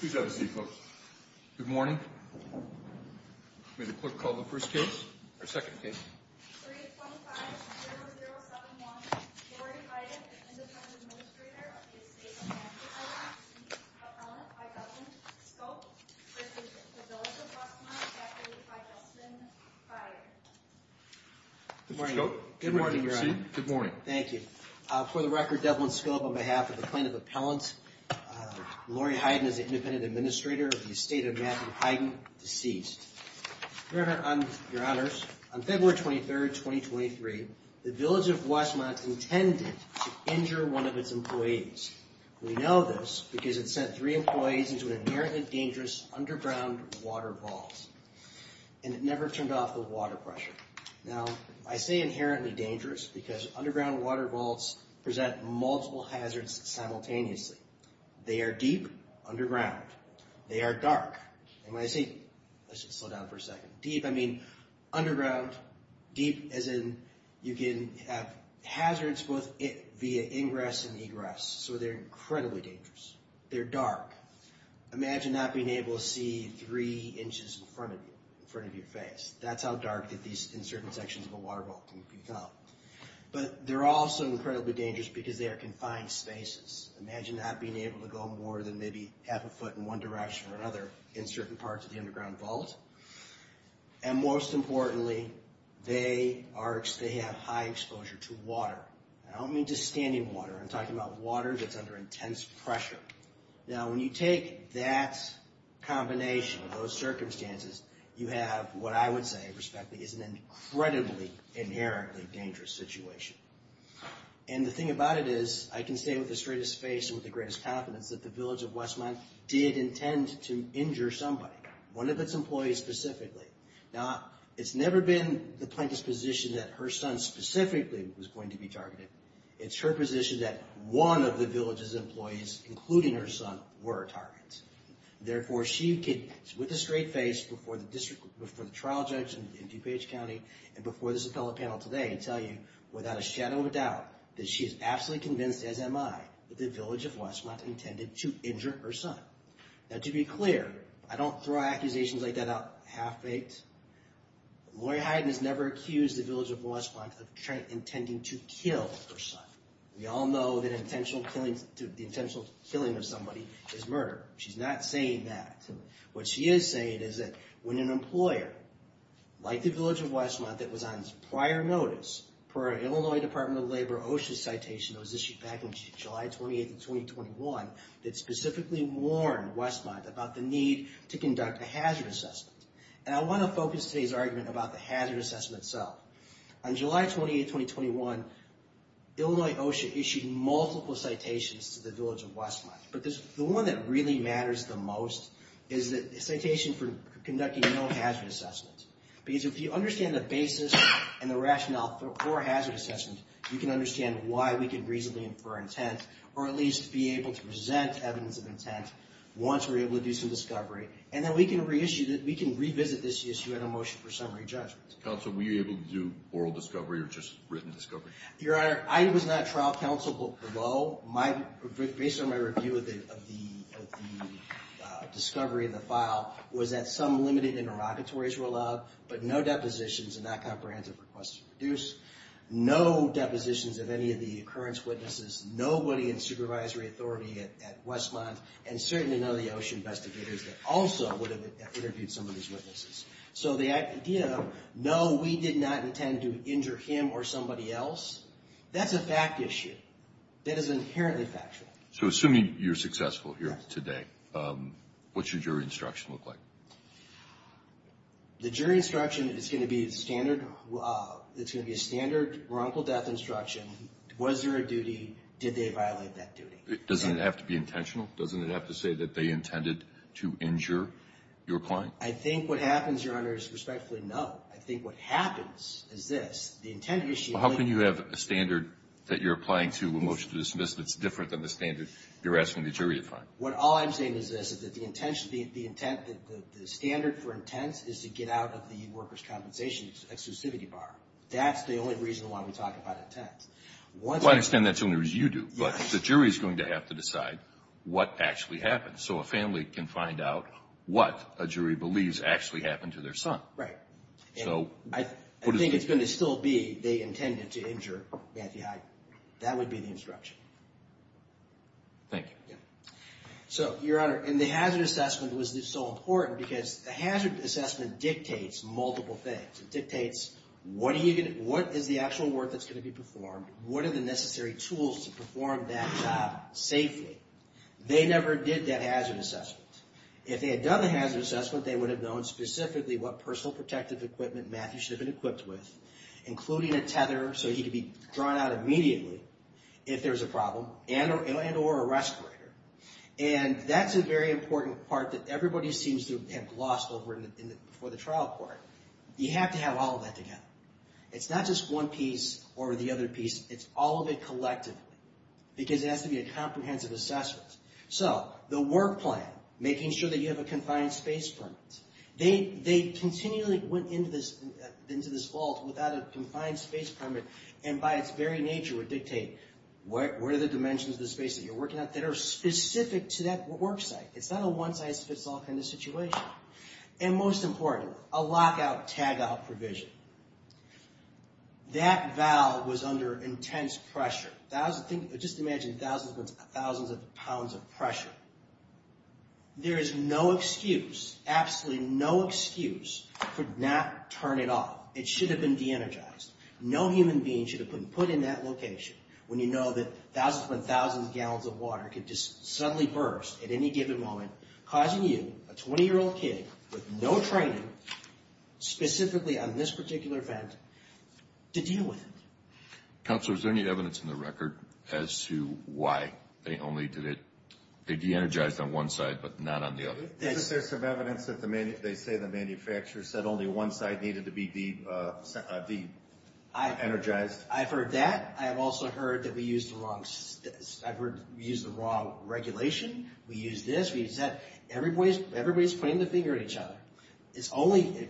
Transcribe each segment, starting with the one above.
Please have a seat, folks. Good morning. May the clerk call the first case, or second case. 325-0071, Lori Heiden, Independent Administrator of the Estate of Massachusetts, Appellant by Devlin Scope v. Village of Westmont, Deputy by Justin Pryor. Good morning. Good morning. You may proceed. Good morning. Thank you. For the record, Devlin Scope, on behalf of the Plaintiff Appellant, Lori Heiden is the Independent Administrator of the Estate of Matthew Heiden, deceased. Your Honors, on February 23rd, 2023, the Village of Westmont intended to injure one of its employees. We know this because it sent three employees into an inherently dangerous underground water vault, and it never turned off the water pressure. Now, I say inherently dangerous because underground water vaults present multiple hazards simultaneously. They are deep underground. They are dark. And when I say, let's just slow down for a second. Deep, I mean underground, deep as in you can have hazards both via ingress and egress. So they're incredibly dangerous. They're dark. Imagine not being able to see three inches in front of you, in front of your face. That's how dark that these, in certain sections of a water vault can become. But they're also incredibly dangerous because they are confined spaces. Imagine not being able to go more than maybe half a foot in one direction or another in certain parts of the underground vault. And most importantly, they are, they have high exposure to water. And I don't mean just standing water. I'm talking about water that's under intense pressure. Now, when you take that combination of those circumstances, you have what I would say, respectfully, is an incredibly inherently dangerous situation. And the thing about it is I can say with the straightest face and with the greatest confidence that the village of Westmont did intend to injure somebody, one of its employees specifically. Now, it's never been the plaintiff's position that her son specifically was going to be targeted. It's her position that one of the village's employees, including her son, were a target. Therefore, she could, with a straight face, before the district, before the trial judge in DuPage County and before this appellate panel today, tell you without a shadow of a doubt that she is absolutely convinced, as am I, that the village of Westmont intended to injure her son. Now, to be clear, I don't throw accusations like that out half-baked. Lori Hyden has never accused the village of Westmont of intending to kill her son. We all know that the intentional killing of somebody is murder. She's not saying that. What she is saying is that when an employer, like the village of Westmont, that was on prior notice, per Illinois Department of Labor OSHA's citation that was issued back on July 28th of 2021, that specifically warned Westmont about the need to conduct a hazard assessment. And I want to focus today's argument about the hazard assessment itself. On July 28th, 2021, Illinois OSHA issued multiple citations to the village of Westmont. But the one that really matters the most is the citation for conducting no hazard assessment. Because if you understand the basis and the rationale for hazard assessment, you can understand why we can reasonably infer intent or at least be able to present evidence of intent once we're able to do some discovery. And then we can revisit this issue in a motion for summary judgment. Counsel, were you able to do oral discovery or just written discovery? Your Honor, I was not a trial counsel, but below, based on my review of the discovery in the file, was that some limited interrogatories were allowed, but no depositions and not comprehensive requests were produced. No depositions of any of the occurrence witnesses, nobody in supervisory authority at Westmont, and certainly none of the OSHA investigators that also would have interviewed some of these witnesses. So the idea of no, we did not intend to injure him or somebody else, that's a fact issue. That is inherently factual. So assuming you're successful here today, what should your instruction look like? The jury instruction is going to be a standard, it's going to be a standard wrongful death instruction. Was there a duty? Did they violate that duty? Doesn't it have to be intentional? Doesn't it have to say that they intended to injure your client? I think what happens, Your Honor, is respectfully, no. I think what happens is this. The intended issue is that you have a standard that you're applying to a motion to dismiss that's different than the standard you're asking the jury to find. All I'm saying is this, is that the standard for intent is to get out of the workers' compensation exclusivity bar. That's the only reason why we talk about intent. To what extent that's only what you do, but the jury is going to have to decide what actually happened so a family can find out what a jury believes actually happened to their son. I think it's going to still be they intended to injure Matthew Hyde. That would be the instruction. Thank you. So, Your Honor, and the hazard assessment was so important because the hazard assessment dictates multiple things. It dictates, what is the actual work that's going to be performed? What are the necessary tools to perform that job safely? They never did that hazard assessment. If they had done the hazard assessment, they would have known specifically what personal protective equipment Matthew should have been equipped with, including a tether so he could be drawn out immediately if there was a problem, and or a respirator. And that's a very important part that everybody seems to have lost before the trial court. You have to have all of that together. It's not just one piece or the other piece, it's all of it collectively because it has to be a comprehensive assessment. So, the work plan, making sure that you have a confined space permit. They continually went into this vault without a confined space permit and by its very nature would dictate, what are the dimensions of the space that you're working at that are specific to that work site? It's not a one size fits all kind of situation. And most important, a lockout tagout provision. That valve was under intense pressure. Just imagine thousands upon thousands of pounds of pressure. There is no excuse, absolutely no excuse for not turning it off. It should have been de-energized. No human being should have been put in that location when you know that thousands upon thousands of gallons of water could just suddenly burst at any given moment causing you, a 20-year-old kid with no training specifically on this particular event, to deal with it. Counselor, is there any evidence in the record as to why they only did it they de-energized on one side but not on the other? Isn't there some evidence that they say the manufacturer said only one side needed to be de-energized? I've heard that. I have also heard that we used the wrong regulation. We used this, we used that. Everybody's pointing the finger at each other.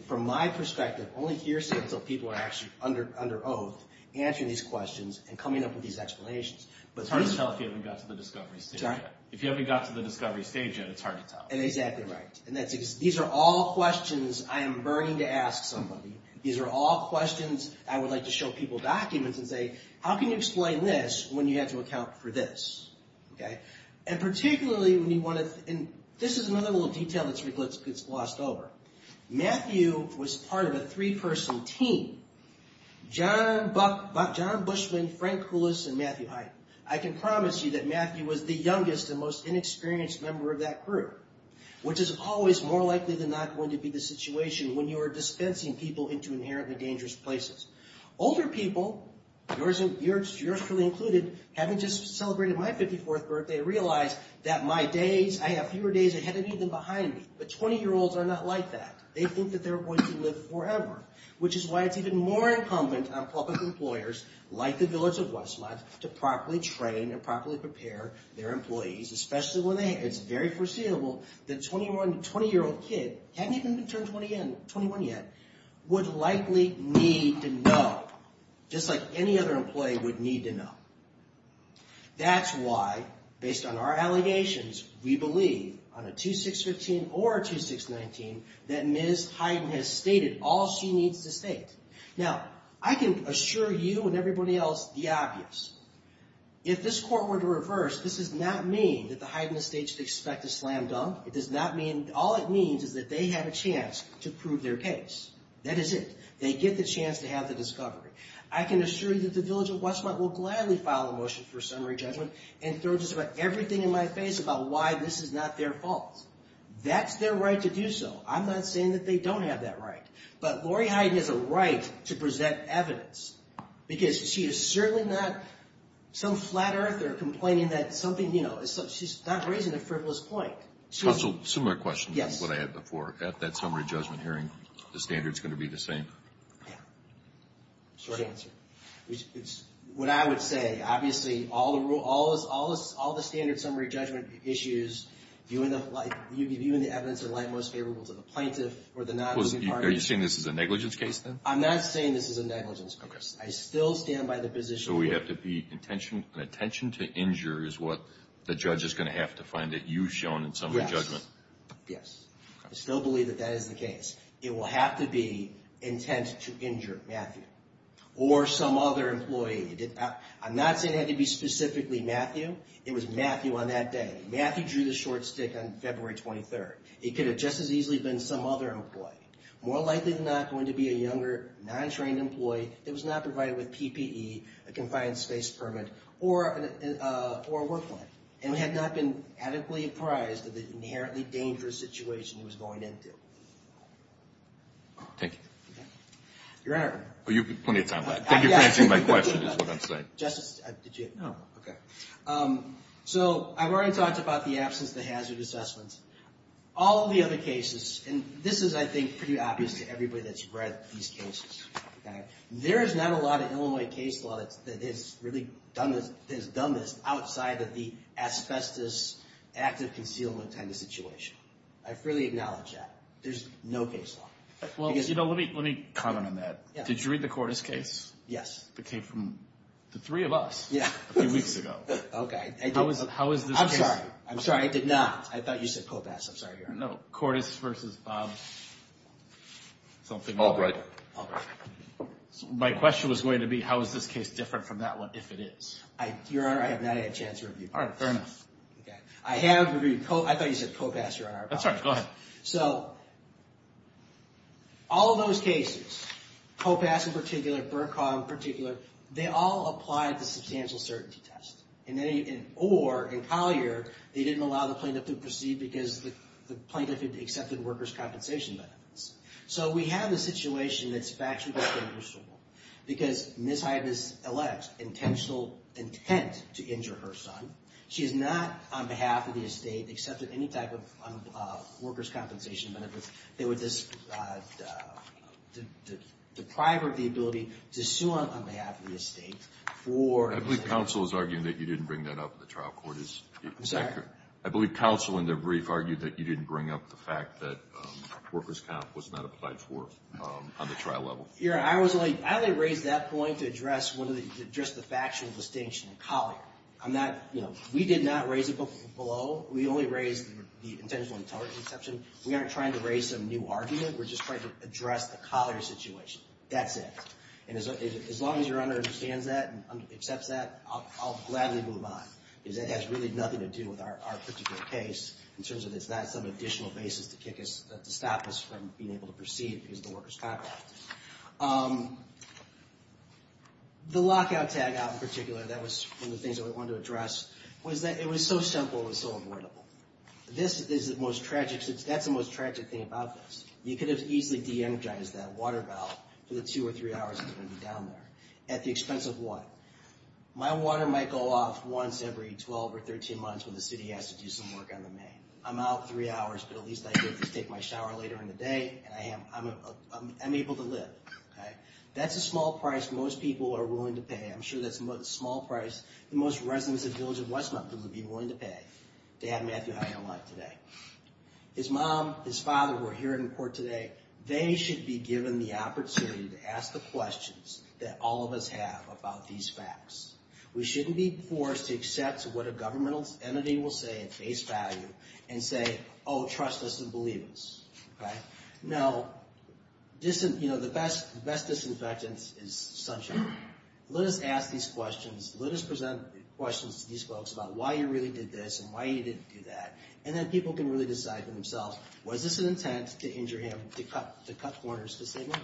From my perspective, only hearsay until people are actually under oath answering these questions and coming up with these explanations. It's hard to tell if you haven't got to the discovery stage yet. If you haven't got to the discovery stage yet, it's hard to tell. Exactly right. These are all questions I am burning to ask somebody. These are all questions I would like to show people documents and say, how can you explain this when you have to account for this? And particularly, this is another little detail that gets glossed over. Matthew was part of a three-person team. John Bushman, Frank Houlis, and Matthew Height. I can promise you that Matthew was the youngest and most inexperienced member of that group. Which is always more likely than not going to be the situation when you are dispensing people into inherently dangerous places. Older people, yours truly included, haven't just celebrated my 54th birthday, realized that my days, I have fewer days ahead of me than behind me. But 20-year-olds are not like that. They think that they're going to live forever. Which is why it's even more incumbent on public employers, like the Village of Westmont, to properly train and properly prepare their employees, especially when it's very foreseeable that a 20-year-old kid, hadn't even turned 21 yet, would likely need to know. Just like any other employee would need to know. That's why, based on our allegations, we believe, on a 2615 or a 2619, that Ms. Hyden has stated all she needs to state. Now, I can assure you and everybody else the obvious. If this court were to reverse, this does not mean that the Hyden Estate should expect a slam dunk. It does not mean, all it means is that they have a chance to prove their case. That is it. They get the chance to have the discovery. I can assure you that the Village of Westmont will gladly file a motion for summary judgment and throw just about everything in my face about why this is not their fault. That's their right to do so. I'm not saying that they don't have that right. But Lori Hyden has a right to present evidence. Because she is certainly not some flat earther complaining that something, you know, she's not raising a frivolous point. Counsel, similar question to what I had before. At that summary judgment hearing, the standard's going to be the same? Short answer. What I would say, obviously, all the standard summary judgment issues, viewing the evidence in light most favorable to the plaintiff or the non-moving parties. Are you saying this is a negligence case then? I'm not saying this is a negligence case. I still stand by the position. So we have to be, an attention to injure is what the judge is going to have to find that you've shown in summary judgment. Yes, yes. I still believe that that is the case. It will have to be intent to injure Matthew or some other employee. I'm not saying it had to be specifically Matthew. It was Matthew on that day. Matthew drew the short stick on February 23rd. It could have just as easily been some other employee. More likely than not going to be a younger, non-trained employee that was not provided with PPE, a confined space permit, or a work plan. And had not been adequately apprised of the inherently dangerous situation he was going into. Thank you. Your Honor. You have plenty of time left. Thank you for answering my question is what I'm saying. Justice, did you? No. Okay. So I've already talked about the absence of the hazard assessments. All of the other cases, and this is, I think, pretty obvious to everybody that's read these cases. There is not a lot of Illinois case law that has really done this outside of the asbestos active concealment kind of situation. I fully acknowledge that. There's no case law. Well, you know, let me comment on that. Did you read the Cordes case? Yes. It came from the three of us a few weeks ago. Okay. How is this case? I'm sorry. I'm sorry. I did not. I thought you said COPAS. I'm sorry, Your Honor. No. I thought you said Cordes versus Bob something. Albright. My question was going to be how is this case different from that one, if it is? Your Honor, I have not had a chance to review it. All right. Fair enough. I have reviewed COPAS. I thought you said COPAS, Your Honor. I'm sorry. Go ahead. So all of those cases, COPAS in particular, Bercow in particular, they all applied the substantial certainty test, or in Collier they didn't allow the plaintiff to proceed because the plaintiff had accepted workers' compensation benefits. So we have a situation that's factually questionable because Ms. Hibas alleged intentional intent to injure her son. She is not, on behalf of the estate, accepted any type of workers' compensation benefits that would deprive her of the ability to sue on behalf of the estate for... I believe counsel is arguing that you didn't bring that up at the trial, Cordes. I believe counsel in the brief argued that you didn't bring up the fact that workers' comp was not applied for on the trial level. Your Honor, I only raised that point to address the factual distinction in Collier. We did not raise it below. We only raised the intentional intelligence exception. We aren't trying to raise some new argument. We're just trying to address the Collier situation. That's it. And as long as Your Honor understands that and accepts that, I'll gladly move on because that has really nothing to do with our particular case in terms of it's not some additional basis to stop us from being able to proceed because of the workers' comp act. The lockout tag out in particular, that was one of the things that we wanted to address, was that it was so simple and so avoidable. That's the most tragic thing about this. You could have easily de-energized that water valve for the two or three hours it's going to be down there. At the expense of what? My water might go off once every 12 or 13 months when the city has to do some work on the main. I'm out three hours, but at least I get to take my shower later in the day, and I'm able to live. That's a small price most people are willing to pay. I'm sure that's the small price the most residents of Village of Westmont would be willing to pay to have Matthew Hyatt alive today. His mom, his father, who are here in court today, they should be given the opportunity to ask the questions that all of us have about these facts. We shouldn't be forced to accept what a governmental entity will say at face value and say, oh, trust us and believe us. Now, the best disinfectant is sunshine. Let us ask these questions. Let us present questions to these folks about why you really did this and why you didn't do that, and then people can really decide for themselves, was this an intent to injure him, to cut corners, to say no,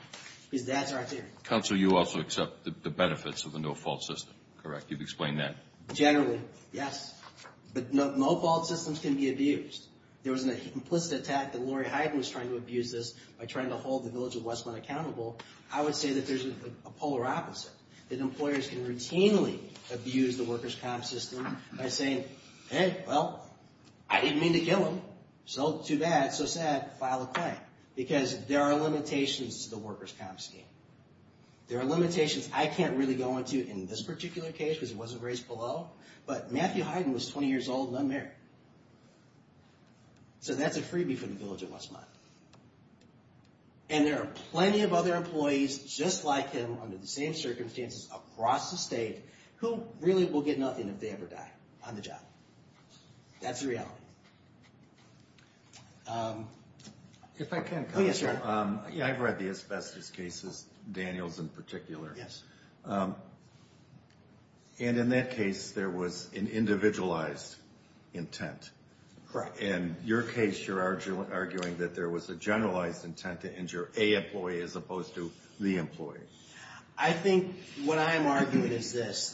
because that's our theory. Counsel, you also accept the benefits of the no-fault system, correct? You've explained that. Generally, yes. But no-fault systems can be abused. There was an implicit attack that Lori Hyden was trying to abuse this by trying to hold the Village of Westmont accountable. I would say that there's a polar opposite, that employers can routinely abuse the workers' comp system by saying, hey, well, I didn't mean to kill him, so too bad, so sad, file a claim, because there are limitations to the workers' comp scheme. There are limitations I can't really go into in this particular case because it wasn't raised below, but Matthew Hyden was 20 years old and unmarried. So that's a freebie for the Village of Westmont. And there are plenty of other employees just like him under the same circumstances across the state who really will get nothing if they ever die on the job. That's the reality. If I can, Counselor. Yes, sir. I've read the asbestos cases, Daniel's in particular. And in that case, there was an individualized intent. Correct. In your case, you're arguing that there was a generalized intent to injure a employee as opposed to the employee. I think what I'm arguing is this,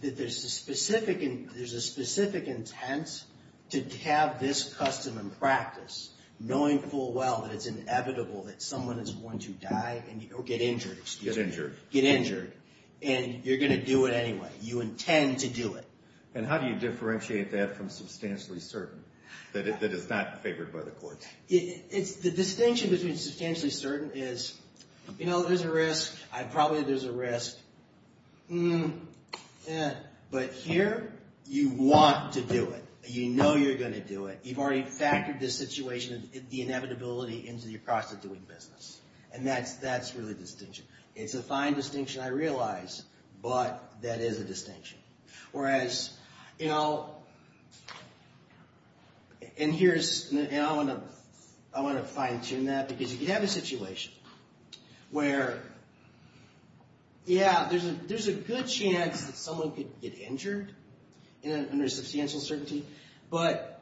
that there's a specific intent to have this custom and practice, knowing full well that it's inevitable that someone is going to die or get injured, excuse me. Get injured. Get injured. And you're going to do it anyway. You intend to do it. And how do you differentiate that from substantially certain, that it's not favored by the court? The distinction between substantially certain is, you know, there's a risk. Probably there's a risk. But here, you want to do it. You know you're going to do it. You've already factored this situation, the inevitability, into your prosecuting business. And that's really the distinction. It's a fine distinction, I realize, but that is a distinction. Whereas, you know, and here's, and I want to fine tune that because you could have a situation where, yeah, there's a good chance that someone could get injured under substantial certainty. But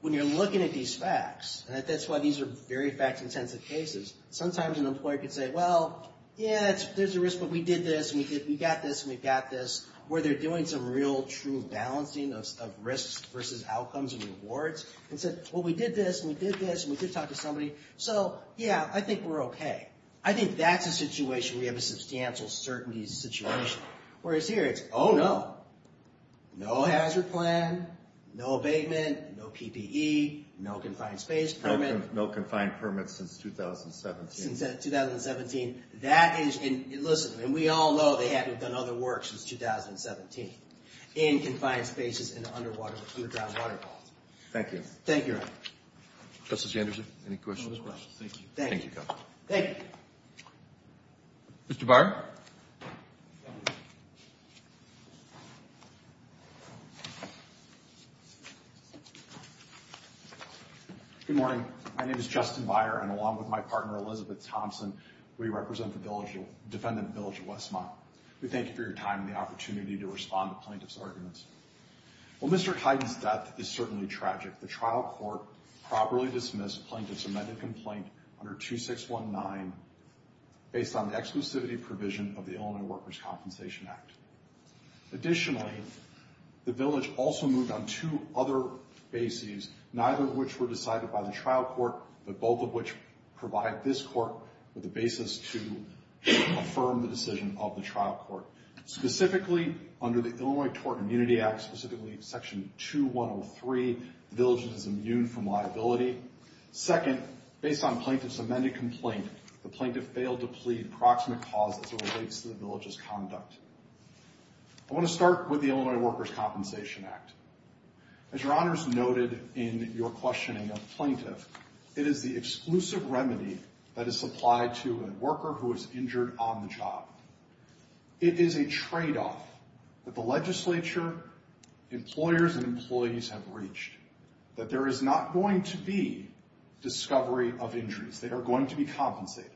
when you're looking at these facts, and that's why these are very fact-intensive cases, sometimes an employer could say, well, yeah, there's a risk, but we did this, and we got this, and we got this, where they're doing some real true balancing of risks versus outcomes and rewards. And said, well, we did this, and we did this, and we did talk to somebody. So, yeah, I think we're okay. I think that's a situation where you have a substantial certainty situation. Whereas here, it's, oh, no. No hazard plan, no abatement, no PPE, no confined space permit. No confined permits since 2017. Since 2017. That is, and listen, and we all know they haven't done other work since 2017. In confined spaces and underwater, underground waterfalls. Thank you. Thank you. Justice Anderson, any questions? Thank you. Thank you, Governor. Thank you. Mr. Byer. Good morning. My name is Justin Byer, and along with my partner Elizabeth Thompson, we represent the Defendant Village of Westmont. We thank you for your time and the opportunity to respond to plaintiff's arguments. Well, Mr. Hyden's death is certainly tragic. The trial court properly dismissed plaintiff's amended complaint under 2619 based on the exclusivity provision of the Illinois Workers' Compensation Act. Additionally, the village also moved on two other bases, neither of which were decided by the trial court, but both of which provide this court with a basis to affirm the decision of the trial court. Specifically, under the Illinois Tort Immunity Act, specifically Section 2103, the village is immune from liability. Second, based on plaintiff's amended complaint, the plaintiff failed to plead proximate cause as it relates to the village's conduct. I want to start with the Illinois Workers' Compensation Act. As Your Honors noted in your questioning of plaintiff, it is the exclusive remedy that is supplied to a worker who is injured on the job. It is a tradeoff that the legislature, employers, and employees have reached, that there is not going to be discovery of injuries. They are going to be compensated.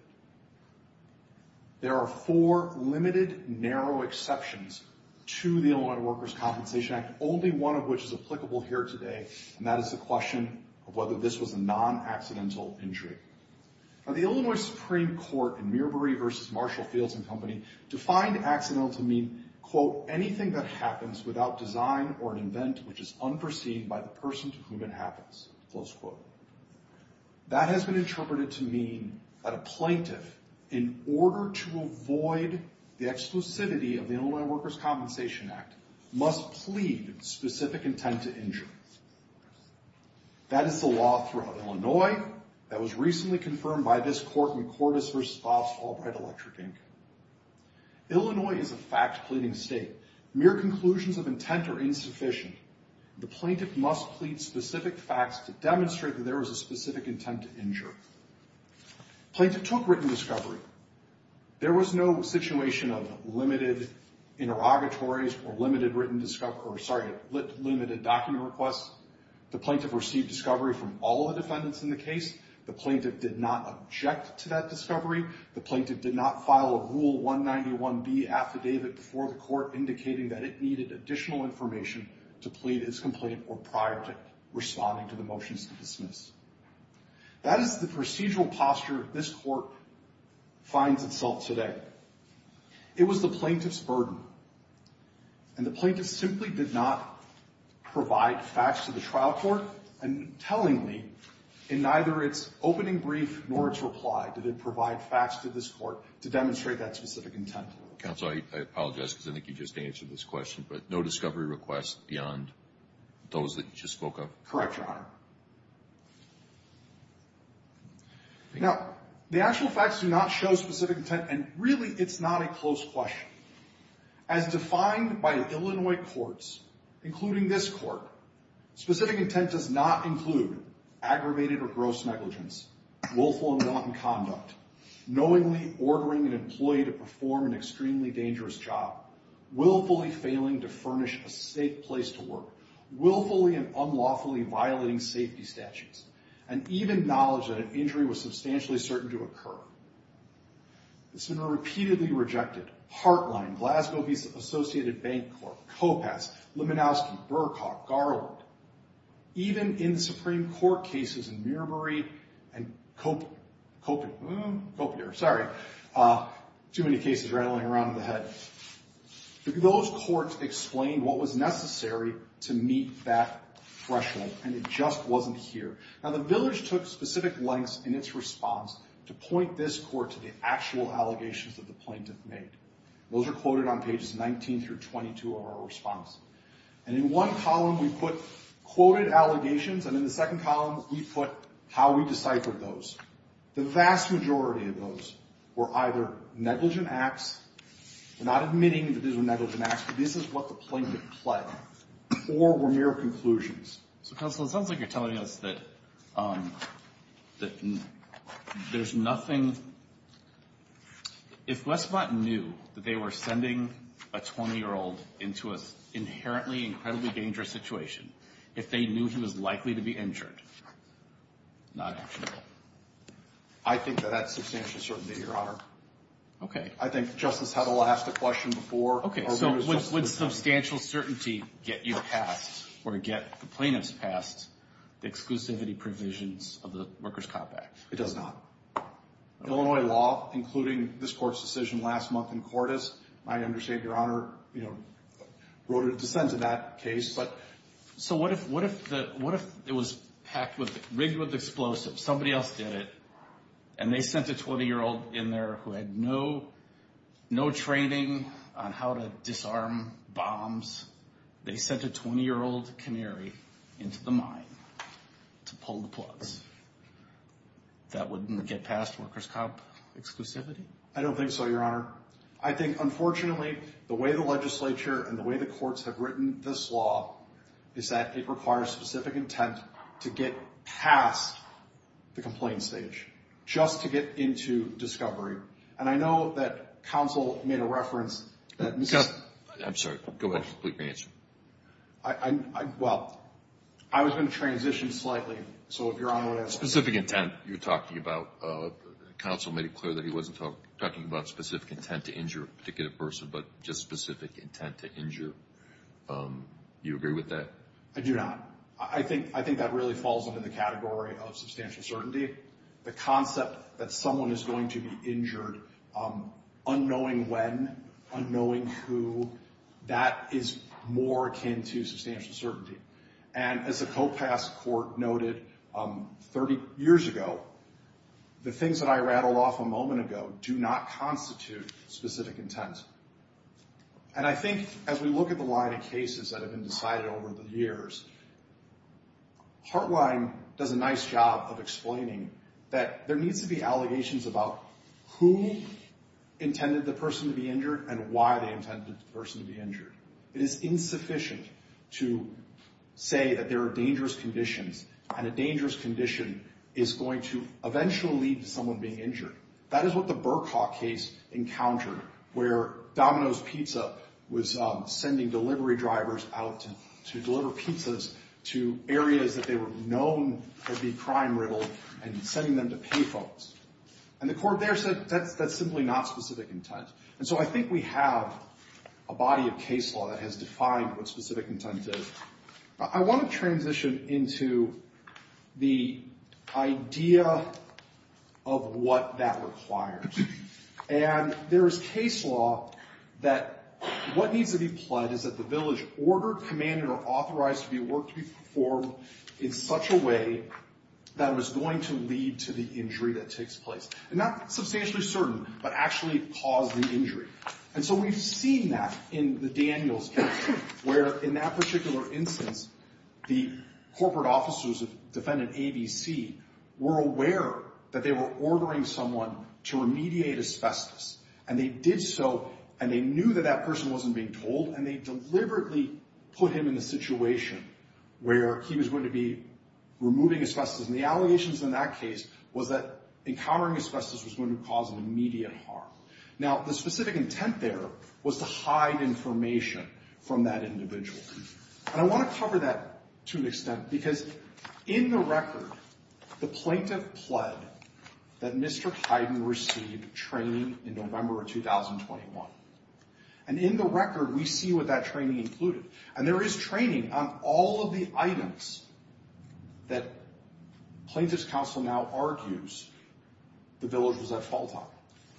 There are four limited, narrow exceptions to the Illinois Workers' Compensation Act. Only one of which is applicable here today, and that is the question of whether this was a non-accidental injury. The Illinois Supreme Court in Mirbury v. Marshall Fields and Company defined accidental to mean, quote, anything that happens without design or an event which is unforeseen by the person to whom it happens, close quote. That has been interpreted to mean that a plaintiff, in order to avoid the exclusivity of the Illinois Workers' Compensation Act, must plead specific intent to injure. That is the law throughout Illinois that was recently confirmed by this court in Cordis v. Bob's Albright Electric, Inc. Illinois is a fact-pleading state. Mere conclusions of intent are insufficient. The plaintiff must plead specific facts to demonstrate that there was a specific intent to injure. Plaintiff took written discovery. There was no situation of limited interrogatories or limited written discovery, or sorry, limited document requests. The plaintiff received discovery from all the defendants in the case. The plaintiff did not object to that discovery. The plaintiff did not file a Rule 191B affidavit before the court indicating that it needed additional information to plead its complaint or prior to responding to the motions to dismiss. That is the procedural posture this court finds itself today. It was the plaintiff's burden, and the plaintiff simply did not provide facts to the trial court, and tellingly, in neither its opening brief nor its reply, did it provide facts to this court to demonstrate that specific intent. Counsel, I apologize because I think you just answered this question, but no discovery requests beyond those that you just spoke of? Correct, Your Honor. Now, the actual facts do not show specific intent, and really it's not a close question. As defined by Illinois courts, including this court, specific intent does not include aggravated or gross negligence, willful and wanton conduct, knowingly ordering an employee to perform an extremely dangerous job, willfully failing to furnish a safe place to work, willfully and unlawfully violating safety statutes, and even knowledge that an injury was substantially certain to occur. It's been repeatedly rejected. Heartline, Glasgow Associated Bank Corp, Kopass, Liminowski, Burkhart, Garland, even in the Supreme Court cases in Mirbury and Copier, sorry, too many cases rattling around in the head. Those courts explained what was necessary to meet that threshold, and it just wasn't here. Now, the village took specific lengths in its response to point this court to the actual allegations that the plaintiff made. Those are quoted on pages 19 through 22 of our response. And in one column we put quoted allegations, and in the second column we put how we deciphered those. The vast majority of those were either negligent acts or not admitting that these were negligent acts, but this is what the plaintiff pled, or were mere conclusions. So, Counselor, it sounds like you're telling us that there's nothing. If Westmont knew that they were sending a 20-year-old into an inherently incredibly dangerous situation, if they knew he was likely to be injured, not actionable. I think that that's substantial certainty, Your Honor. Okay. I think Justice Hedl asked the question before. Okay, so would substantial certainty get you passed, or get the plaintiffs passed, the exclusivity provisions of the Workers' Cop Act? It does not. Illinois law, including this court's decision last month in Cordes, my understanding, Your Honor, wrote a dissent to that case. So what if it was rigged with explosives, somebody else did it, and they sent a 20-year-old in there who had no training on how to disarm bombs. They sent a 20-year-old canary into the mine to pull the plugs. That wouldn't get past workers' cop exclusivity? I don't think so, Your Honor. I think, unfortunately, the way the legislature and the way the courts have written this law is that it requires specific intent to get past the complaint stage, just to get into discovery. And I know that counsel made a reference that Mr. I'm sorry. Go ahead. Complete your answer. Well, I was going to transition slightly, so if Your Honor would ask. Specific intent you're talking about, counsel made it clear that he wasn't talking about specific intent to injure a particular person, but just specific intent to injure. You agree with that? I do not. I think that really falls under the category of substantial certainty. The concept that someone is going to be injured, unknowing when, unknowing who, that is more akin to substantial certainty. And as a co-pass court noted 30 years ago, the things that I rattled off a moment ago do not constitute specific intent. And I think as we look at the line of cases that have been decided over the years, Hartline does a nice job of explaining that there needs to be allegations about who intended the person to be injured and why they intended the person to be injured. It is insufficient to say that there are dangerous conditions, and a dangerous condition is going to eventually lead to someone being injured. That is what the Burkhaw case encountered, where Domino's Pizza was sending delivery drivers out to deliver pizzas to areas that they were known to be crime riddled and sending them to pay folks. And the court there said that's simply not specific intent. And so I think we have a body of case law that has defined what specific intent is. I want to transition into the idea of what that requires. And there is case law that what needs to be pled is that the village ordered, commanded, or authorized to be worked to be performed in such a way that it was going to lead to the injury that takes place. And not substantially certain, but actually caused the injury. And so we've seen that in the Daniels case, where in that particular instance, the corporate officers of defendant ABC were aware that they were ordering someone to remediate asbestos. And they did so, and they knew that that person wasn't being told, and they deliberately put him in a situation where he was going to be removing asbestos. And the allegations in that case was that encountering asbestos was going to cause an immediate harm. Now, the specific intent there was to hide information from that individual. And I want to cover that to an extent, because in the record, the plaintiff pled that Mr. Hyden received training in November of 2021. And in the record, we see what that training included. And there is training on all of the items that plaintiff's counsel now argues the village was at fault on.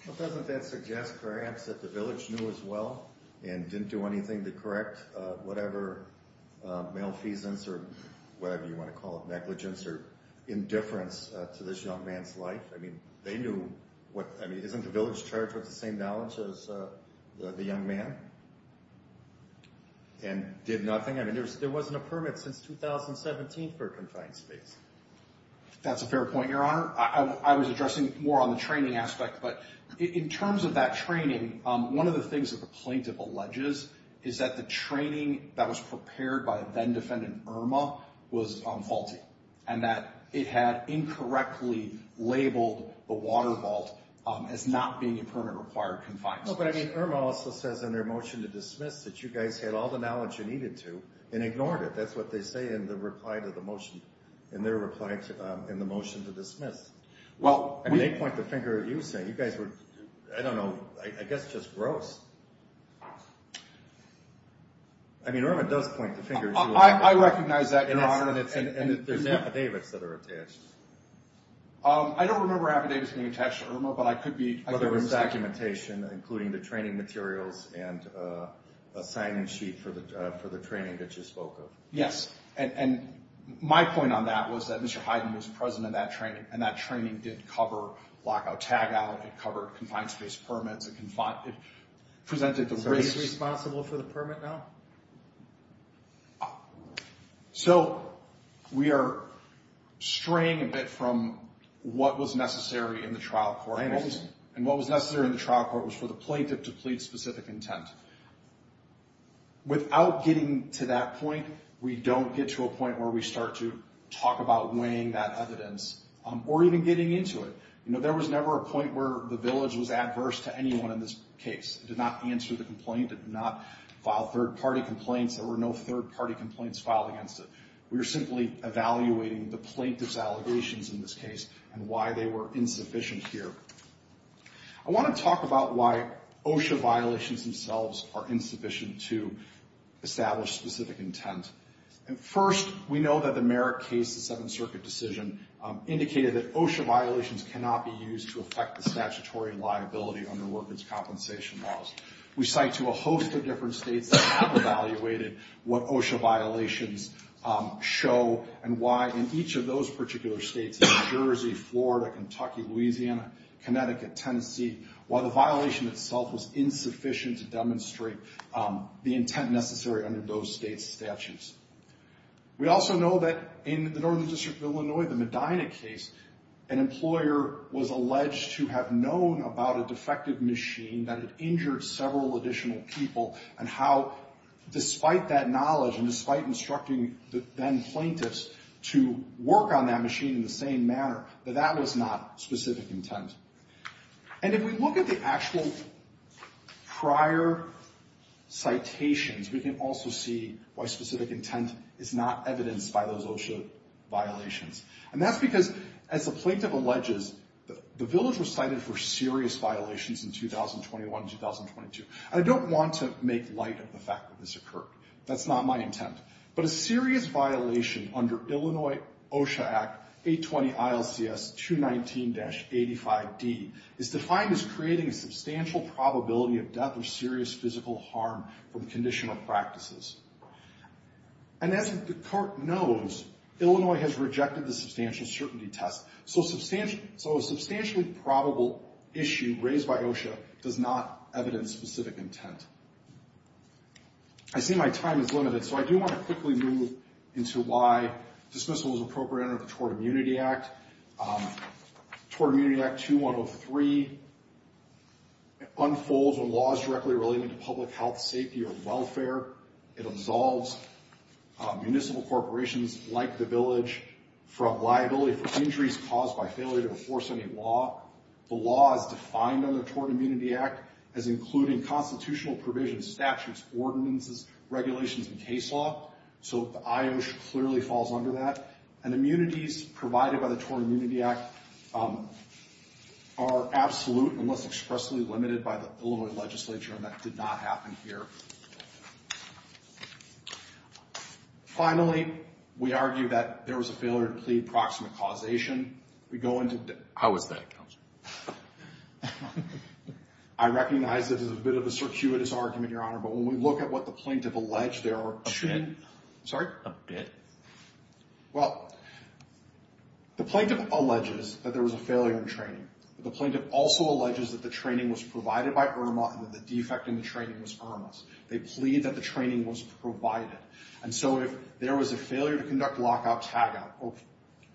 Well, doesn't that suggest, perhaps, that the village knew as well and didn't do anything to correct whatever malfeasance, or whatever you want to call it, negligence or indifference to this young man's life? I mean, they knew. I mean, isn't the village charged with the same knowledge as the young man and did nothing? I mean, there wasn't a permit since 2017 for a confined space. That's a fair point, Your Honor. I was addressing more on the training aspect. But in terms of that training, one of the things that the plaintiff alleges is that the training that was prepared by then-defendant Irma was faulty and that it had incorrectly labeled the water vault as not being a permit-required confined space. No, but I mean, Irma also says in their motion to dismiss that you guys had all the knowledge you needed to and ignored it. That's what they say in the reply to the motion, in their reply in the motion to dismiss. They point the finger at you saying you guys were, I don't know, I guess just gross. I mean, Irma does point the finger at you. I recognize that, Your Honor. And there's affidavits that are attached. I don't remember affidavits being attached to Irma, but I could be. Well, there was documentation, including the training materials and a signing sheet for the training that you spoke of. Yes, and my point on that was that Mr. Hyden was present in that training, and that training did cover lockout-tagout. It covered confined space permits. It presented the race. So he's responsible for the permit now? So we are straying a bit from what was necessary in the trial court. And what was necessary in the trial court was for the plaintiff to plead specific intent. Without getting to that point, we don't get to a point where we start to talk about weighing that evidence or even getting into it. You know, there was never a point where the village was adverse to anyone in this case. It did not answer the complaint. It did not file third-party complaints. There were no third-party complaints filed against it. We were simply evaluating the plaintiff's allegations in this case and why they were insufficient here. I want to talk about why OSHA violations themselves are insufficient to establish specific intent. First, we know that the Merrick case, the Seventh Circuit decision, indicated that OSHA violations cannot be used to affect the statutory liability under workers' compensation laws. We cite to a host of different states that have evaluated what OSHA violations show and why in each of those particular states, New Jersey, Florida, Kentucky, Louisiana, Connecticut, Tennessee, why the violation itself was insufficient to demonstrate the intent necessary under those states' statutes. We also know that in the Northern District of Illinois, the Medina case, an employer was alleged to have known about a defective machine that had injured several additional people and how despite that knowledge and despite instructing the then-plaintiffs to work on that machine in the same manner, that that was not specific intent. And if we look at the actual prior citations, we can also see why specific intent is not evidenced by those OSHA violations. And that's because, as the plaintiff alleges, the village was cited for serious violations in 2021 and 2022. I don't want to make light of the fact that this occurred. That's not my intent. But a serious violation under Illinois OSHA Act 820 ILCS 219-85D is defined as creating a substantial probability of death or serious physical harm from conditional practices. And as the court knows, Illinois has rejected the substantial certainty test. So a substantially probable issue raised by OSHA does not evidence specific intent. I see my time is limited, so I do want to quickly move into why dismissal is appropriate under the Tort Immunity Act. Tort Immunity Act 2103 unfolds when law is directly related to public health, safety, or welfare. It absolves municipal corporations like the village from liability for injuries caused by failure to enforce any law. The law is defined under the Tort Immunity Act as including constitutional provisions, statutes, ordinances, regulations, and case law. So the IOSHA clearly falls under that. And immunities provided by the Tort Immunity Act are absolute unless expressly limited by the Illinois legislature, and that did not happen here. Finally, we argue that there was a failure to plead proximate causation. How was that, Counselor? I recognize this is a bit of a circuitous argument, Your Honor, but when we look at what the plaintiff alleged, there are two... Sorry? A bit. Well, the plaintiff alleges that there was a failure in training. The plaintiff also alleges that the training was provided by IRMA and that the defect in the training was IRMA's. They plead that the training was provided. And so if there was a failure to conduct lockout-tagout or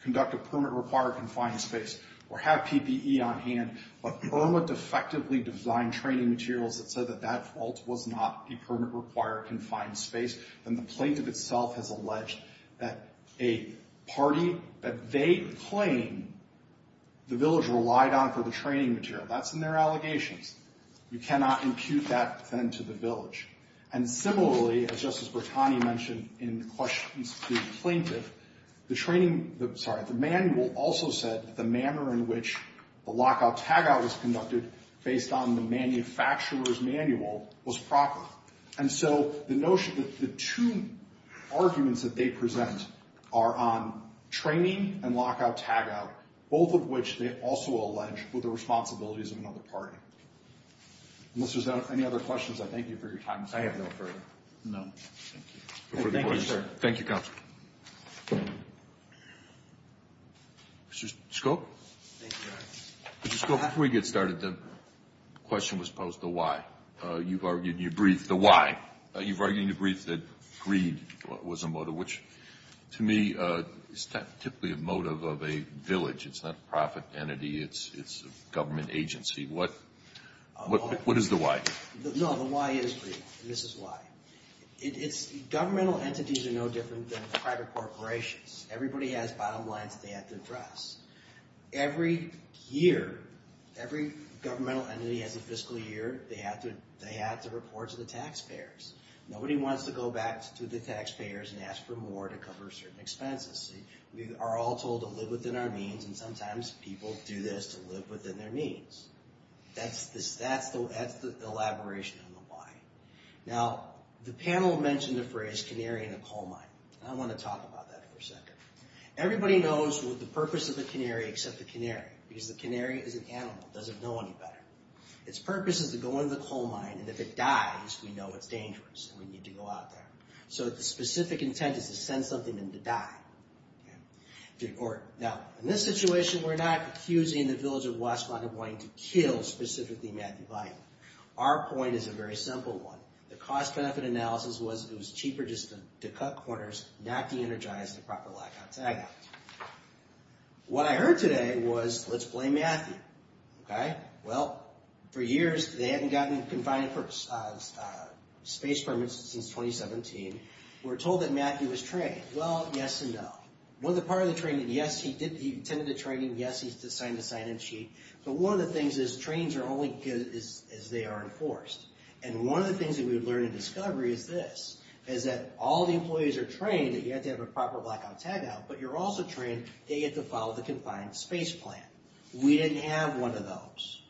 conduct a permit-required confined space or have PPE on hand, but IRMA defectively designed training materials that said that that fault was not a permit-required confined space, then the plaintiff itself has alleged that a party, that they claim the village relied on for the training material. That's in their allegations. You cannot impute that, then, to the village. And similarly, as Justice Bertani mentioned in questions to the plaintiff, the manual also said that the manner in which the lockout-tagout was conducted based on the manufacturer's manual was proper. And so the notion that the two arguments that they present are on training and lockout-tagout, both of which they also allege were the responsibilities of another party. Unless there's any other questions, I thank you for your time. I have no further. Thank you. Thank you, Counsel. Mr. Scope? Thank you, Your Honor. Mr. Scope, before we get started, the question was posed, the why. You've argued in your brief the why. You've argued in your brief that greed was a motive, which to me is typically a motive of a village. It's not a profit entity. It's a government agency. What is the why? No, the why is greed, and this is why. Governmental entities are no different than private corporations. Everybody has bottom lines they have to address. Every year, every governmental entity has a fiscal year, they have to report to the taxpayers. Nobody wants to go back to the taxpayers and ask for more to cover certain expenses. We are all told to live within our means, and sometimes people do this to live within their means. That's the elaboration on the why. Now, the panel mentioned the phrase canary in a coal mine, and I want to talk about that for a second. Everybody knows the purpose of the canary except the canary, because the canary is an animal. It doesn't know any better. Its purpose is to go into the coal mine, and if it dies, we know it's dangerous, and we need to go out there. So the specific intent is to send something in to die. Now, in this situation, we're not accusing the village of Westmont of wanting to kill specifically Matthew Biley. Our point is a very simple one. The cost-benefit analysis was it was cheaper just to cut corners, not to energize the proper lockout tagout. What I heard today was, let's blame Matthew, okay? Well, for years, they hadn't gotten confined space permits since 2017. We're told that Matthew was trained. Well, yes and no. One of the parts of the training, yes, he attended the training, yes, he signed the sign-in sheet, but one of the things is trainings are only good as they are enforced, and one of the things that we learned in discovery is this, is that all the employees are trained, that you have to have a proper blackout tagout, but you're also trained that you have to follow the confined space plan. We didn't have one of those.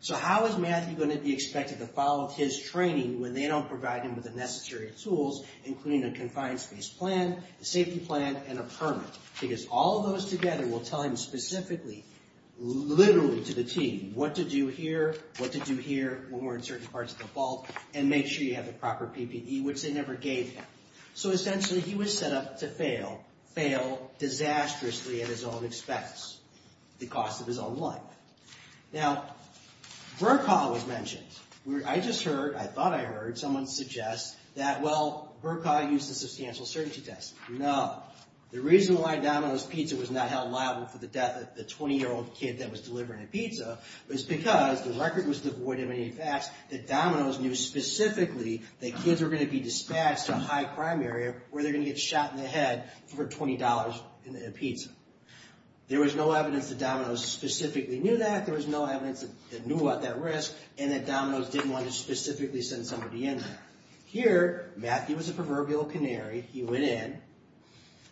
So how is Matthew going to be expected to follow his training when they don't provide him with the necessary tools, including a confined space plan, a safety plan, and a permit? Because all of those together will tell him specifically, literally to the team, what to do here, what to do here, when we're in certain parts of the vault, and make sure you have the proper PPE, which they never gave him. So essentially, he was set up to fail, fail disastrously at his own expense, the cost of his own life. Now, VRCA was mentioned. I just heard, I thought I heard, someone suggest that, well, VRCA used a substantial certainty test. No. The reason why Domino's Pizza was not held liable for the death of the 20-year-old kid that was delivering a pizza was because the record was devoid of any facts that Domino's knew specifically that kids were going to be dispatched to a high-crime area where they're going to get shot in the head for $20 in a pizza. There was no evidence that Domino's specifically knew that. There was no evidence that they knew about that risk, and that Domino's didn't want to specifically send somebody in there. Here, Matthew was a proverbial canary. He went in,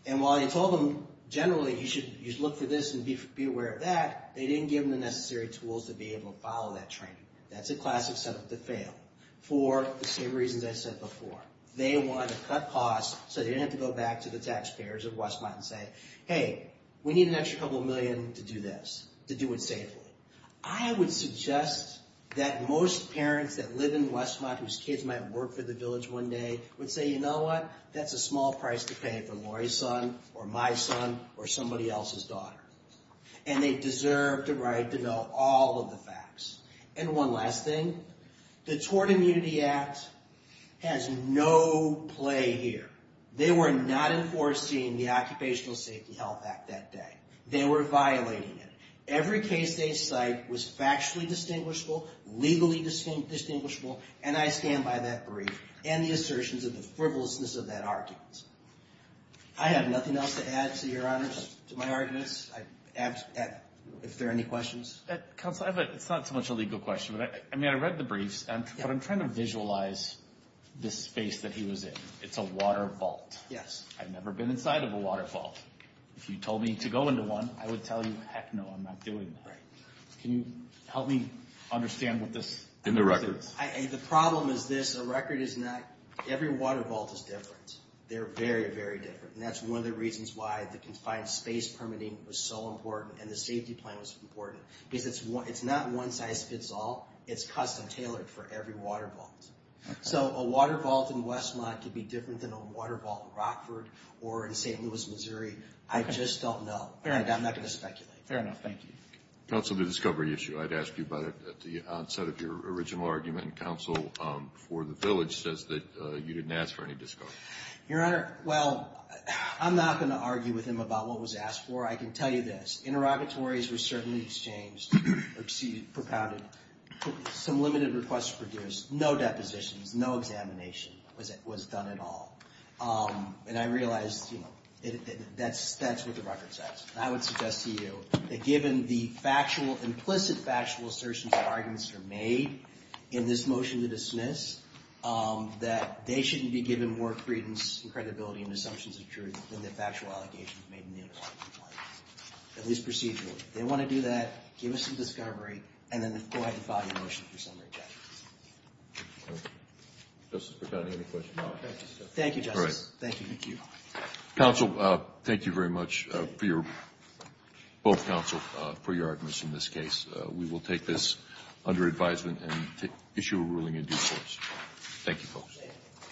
and while he told them, generally, you should look for this and be aware of that, they didn't give them the necessary tools to be able to follow that training. That's a classic setup to fail for the same reasons I said before. They wanted to cut costs so they didn't have to go back to the taxpayers of Westmont and say, hey, we need an extra couple million to do this, to do it safely. I would suggest that most parents that live in Westmont whose kids might work for the village one day would say, you know what, that's a small price to pay for Lori's son, or my son, or somebody else's daughter. And they deserve the right to know all of the facts. And one last thing. The Tort Immunity Act has no play here. They were not enforcing the Occupational Safety Health Act that day. They were violating it. Every case they cite was factually distinguishable, legally distinguishable, and I stand by that brief, and the assertions of the frivolousness of that argument. I have nothing else to add, to your honors, to my arguments. If there are any questions. Counsel, it's not so much a legal question. I mean, I read the briefs, but I'm trying to visualize this space that he was in. It's a water vault. Yes. I've never been inside of a water vault. If you told me to go into one, I would tell you, heck no, I'm not doing that. Right. Can you help me understand what this is? In the records. The problem is this. The record is not. Every water vault is different. They're very, very different. And that's one of the reasons why the confined space permitting was so important and the safety plan was important. Because it's not one size fits all. It's custom tailored for every water vault. So a water vault in Westmont could be different than a water vault in Rockford or in St. Louis, Missouri. I just don't know. I'm not going to speculate. Fair enough. Thank you. Counsel, the discovery issue. I'd ask you about it at the onset of your original argument. Counsel for the village says that you didn't ask for any discovery. Your Honor, well, I'm not going to argue with him about what was asked for. I can tell you this. Interrogatories were certainly exchanged or propounded. Some limited requests produced. No depositions. No examination was done at all. And I realize, you know, that's what the record says. I would suggest to you that given the implicit factual assertions and arguments that are made in this motion to dismiss, that they shouldn't be given more credence and credibility and assumptions of truth than the factual allegations made in the interrogatory. At least procedurally. If they want to do that, give us some discovery, and then go ahead and file your motion for summary judgment. Justice Percotti, any questions? Thank you, Justice. Thank you. Thank you. Counsel, thank you very much, both counsel, for your arguments in this case. We will take this under advisement and issue a ruling in due course. Thank you, folks.